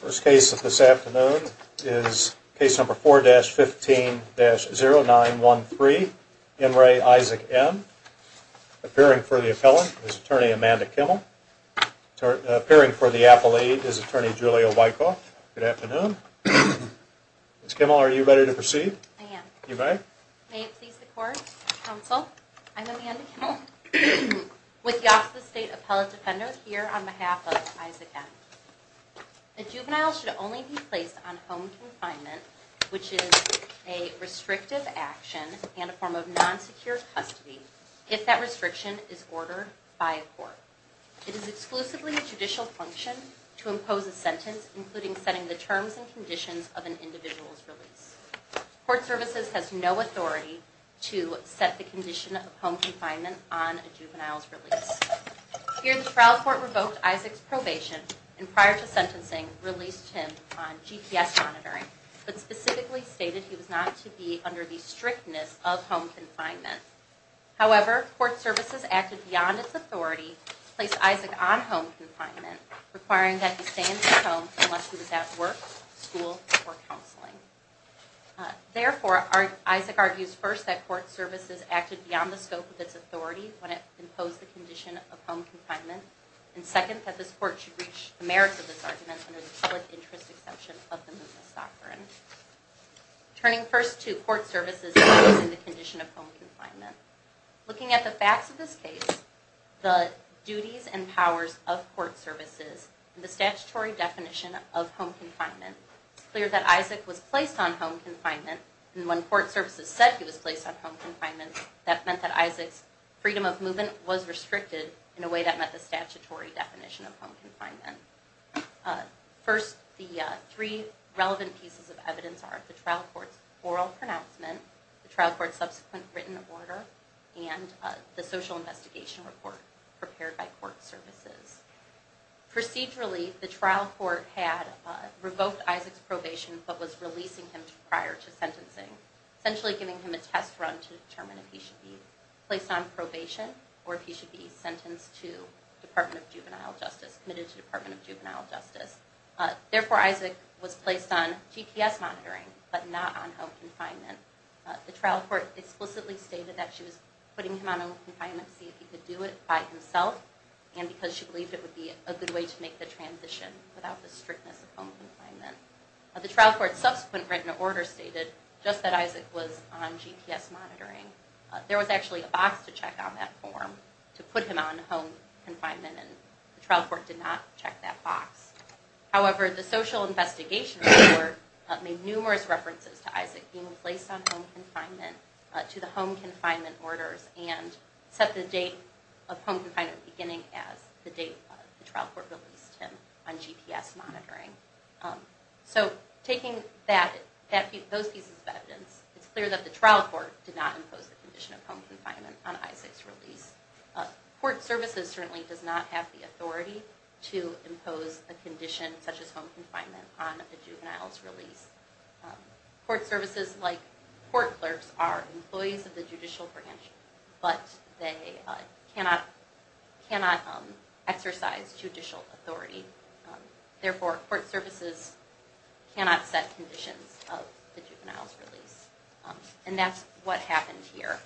First case of this afternoon is case number 4-15-0913, N. Ray Isaac M, appearing for the Appellate is Attorney Julia Wykoff. Good afternoon. Ms. Kimmel, are you ready to proceed? I am. You may. May it please the court, counsel, I'm Amanda Kimmel with the Office of the State Appellate Defender here on behalf of Isaac M. A juvenile should only be placed on home confinement, which is a restrictive action and a form of non-secure custody if that restriction is ordered by a court. It is exclusively a judicial function to impose a sentence, including setting the terms and conditions of an individual's release. Court services has no authority to set the condition of home confinement on a juvenile's release. Here the trial court revoked Isaac's probation and prior to sentencing released him on GPS monitoring, but specifically stated he was not to be under the strictness of home confinement. However, court services acted beyond its authority to place Isaac on home confinement, requiring that he stay in his home unless he was at work, school, or counseling. Therefore, Isaac argues first that court services acted beyond the scope of its authority when it imposed the condition of home confinement, and second, that this court should reach the merits of this argument under the public interest exemption of the movement's doctrine. Turning first to court services and the condition of home confinement, looking at the facts of this case, the duties and powers of court services, and the statutory definition of home confinement, it's clear that Isaac was placed on home confinement, and when court services said he was placed on home confinement, that meant that Isaac's freedom of movement was restricted in a way that met the statutory definition of home confinement. First, the three relevant pieces of evidence are the trial court's oral pronouncement, the trial court's subsequent written order, and the social investigation report prepared by court services. Procedurally, the trial court had revoked Isaac's probation but was releasing him prior to sentencing, essentially giving him a test run to determine if he should be placed on probation or if he should be sentenced to Department of Juvenile Justice, committed to Department of Juvenile Justice. Therefore, Isaac was placed on GPS monitoring but not on home confinement. The trial court explicitly stated that she was putting him on home confinement to see if he could do it by himself, and because she believed it would be a good way to make the transition without the strictness of home confinement. The trial court's subsequent written order stated, just that Isaac was on GPS monitoring, there was actually a box to check on that form to put him on home confinement, and the trial court did not check that box. However, the social investigation report made numerous references to Isaac being placed on home confinement, to the home confinement orders, and set the date of home confinement beginning as the date the trial court released him on GPS monitoring. So, taking those pieces of evidence, it's clear that the trial court did not impose the condition of home confinement on Isaac's release. Court services certainly does not have the authority to impose a condition such as home confinement on a juvenile's release. Court services, like court clerks, are employees of the judicial branch, but they cannot exercise judicial authority. Therefore, court services cannot set conditions of the juvenile's release. And that's what happened here.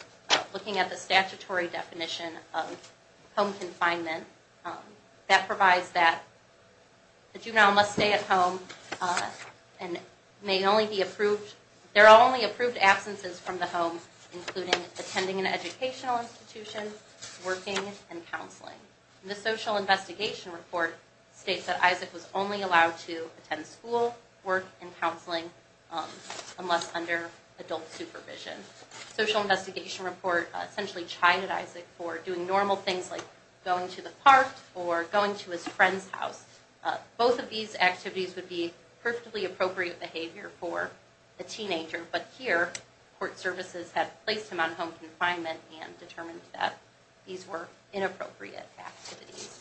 Looking at the statutory definition of home confinement, that provides that the juvenile must stay at home, and there are only approved absences from the home, including attending an educational institution, working, and counseling. The social investigation report states that Isaac was only allowed to attend school, work, and counseling, unless under adult supervision. The social investigation report essentially chided Isaac for doing normal things like going to the park, or going to his friend's house. Both of these activities would be perfectly appropriate behavior for a teenager, but here, court services had placed him on home confinement and determined that these were inappropriate activities.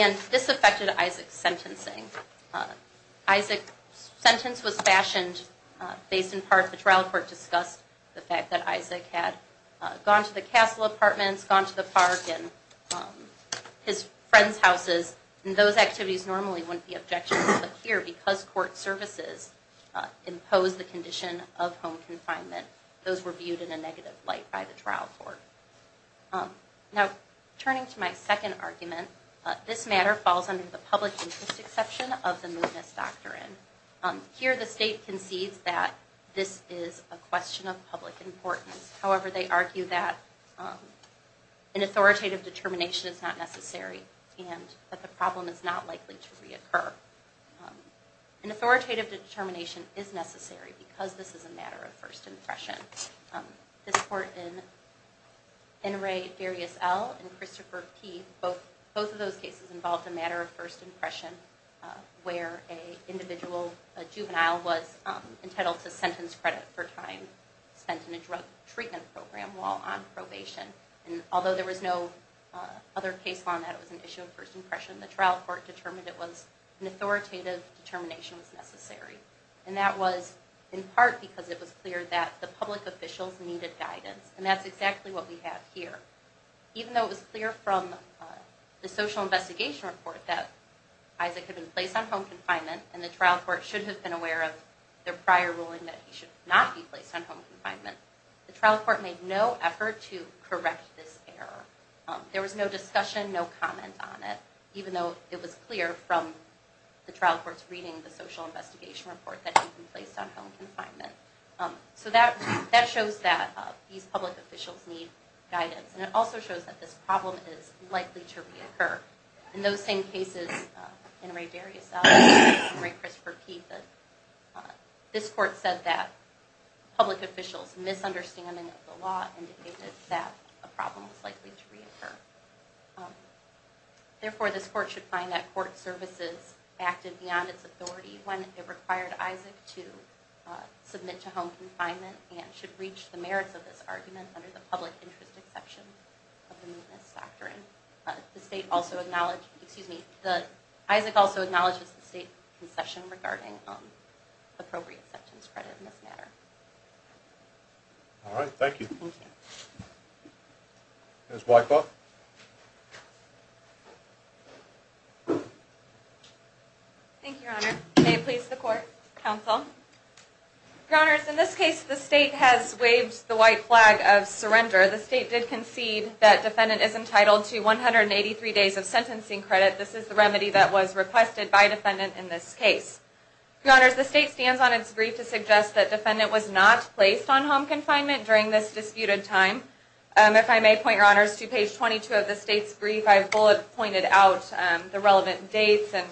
And this affected Isaac's sentencing. Isaac's sentence was fashioned based in part, the trial court discussed the fact that Isaac had gone to the castle apartments, gone to the park, and his friend's houses, and those activities normally wouldn't be objectionable, but here, because court services imposed the condition of home confinement, those were viewed in a negative light by the trial court. Now, turning to my second argument, this matter falls under the public interest exception of the Moodness Doctrine. Here, the state concedes that this is a question of public importance. However, they argue that an authoritative determination is not necessary, and that the problem is not likely to reoccur. An authoritative determination is necessary, because this is a matter of first impression. This court in Enray Darius L. and Christopher P., both of those cases involved a matter of first impression, where an individual, a juvenile, was entitled to sentence credit for time spent in a drug treatment program while on probation. And although there was no other case on that, it was an issue of first impression, the trial court determined it was, an authoritative determination was necessary. And that was in part because it was clear that the public officials needed guidance, and that's exactly what we have here. Even though it was clear from the social investigation report that Isaac had been placed on home confinement, and the trial court should have been aware of their prior ruling that he should not be placed on home confinement, the trial court made no effort to correct this error. There was no discussion, no comment on it, even though it was clear from the trial court's reading the social investigation report that he'd been placed on home confinement. So that shows that these public officials need guidance, and it also shows that this problem is likely to reoccur. In those same cases, Enray Darius L. and Enray Christopher P., this court said that public officials' misunderstanding of the law indicated that a problem was likely to reoccur. Therefore, this court should find that court services acted beyond its authority when it required Isaac to submit to home confinement, and should reach the merits of this argument under the public interest exception of the Mootness Doctrine. Isaac also acknowledges the state concession regarding appropriate sections credited in this matter. All right, thank you. Thank you. Ms. Whitelaw? Thank you, Your Honor. May it please the court, counsel. Your Honors, in this case, the state has waved the white flag of surrender. The state did concede that defendant is entitled to 183 days of sentencing credit. This is the remedy that was requested by defendant in this case. Your Honors, the state stands on its brief to suggest that defendant was not placed on home confinement during this disputed time. If I may point, Your Honors, to page 22 of the state's brief, I've bullet pointed out the relevant dates and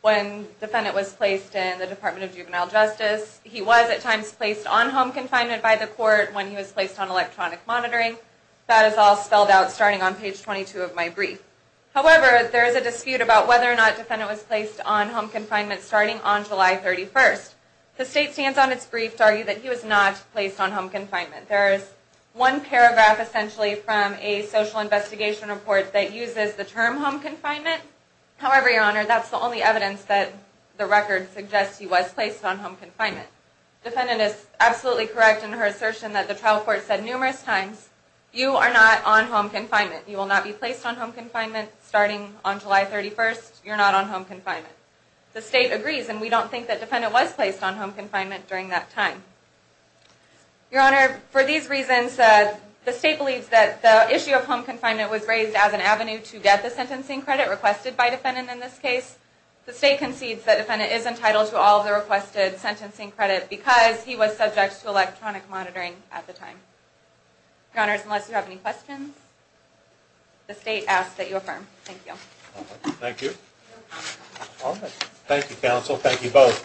when defendant was placed in the Department of Juvenile Justice. He was at times placed on home confinement by the court when he was placed on electronic monitoring. That is all spelled out starting on page 22 of my brief. However, there is a dispute about whether or not defendant was placed on home confinement starting on July 31st. The state stands on its brief to argue that he was not placed on home confinement. There is one paragraph, essentially, from a social investigation report that uses the term home confinement. However, Your Honor, that's the only evidence that the record suggests he was placed on home confinement. Defendant is absolutely correct in her assertion that the trial court said numerous times, You are not on home confinement. You will not be placed on home confinement starting on July 31st. You're not on home confinement. The state agrees and we don't think that defendant was placed on home confinement during that time. Your Honor, for these reasons, the state believes that the issue of home confinement was raised as an avenue to get the sentencing credit requested by defendant in this case. The state concedes that defendant is entitled to all the requested sentencing credit because he was subject to electronic monitoring at the time. Your Honor, unless you have any questions, the state asks that you affirm. Thank you. Thank you. Thank you, counsel. Thank you both.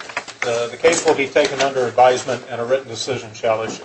The case will be taken under advisement and a written decision shall issue.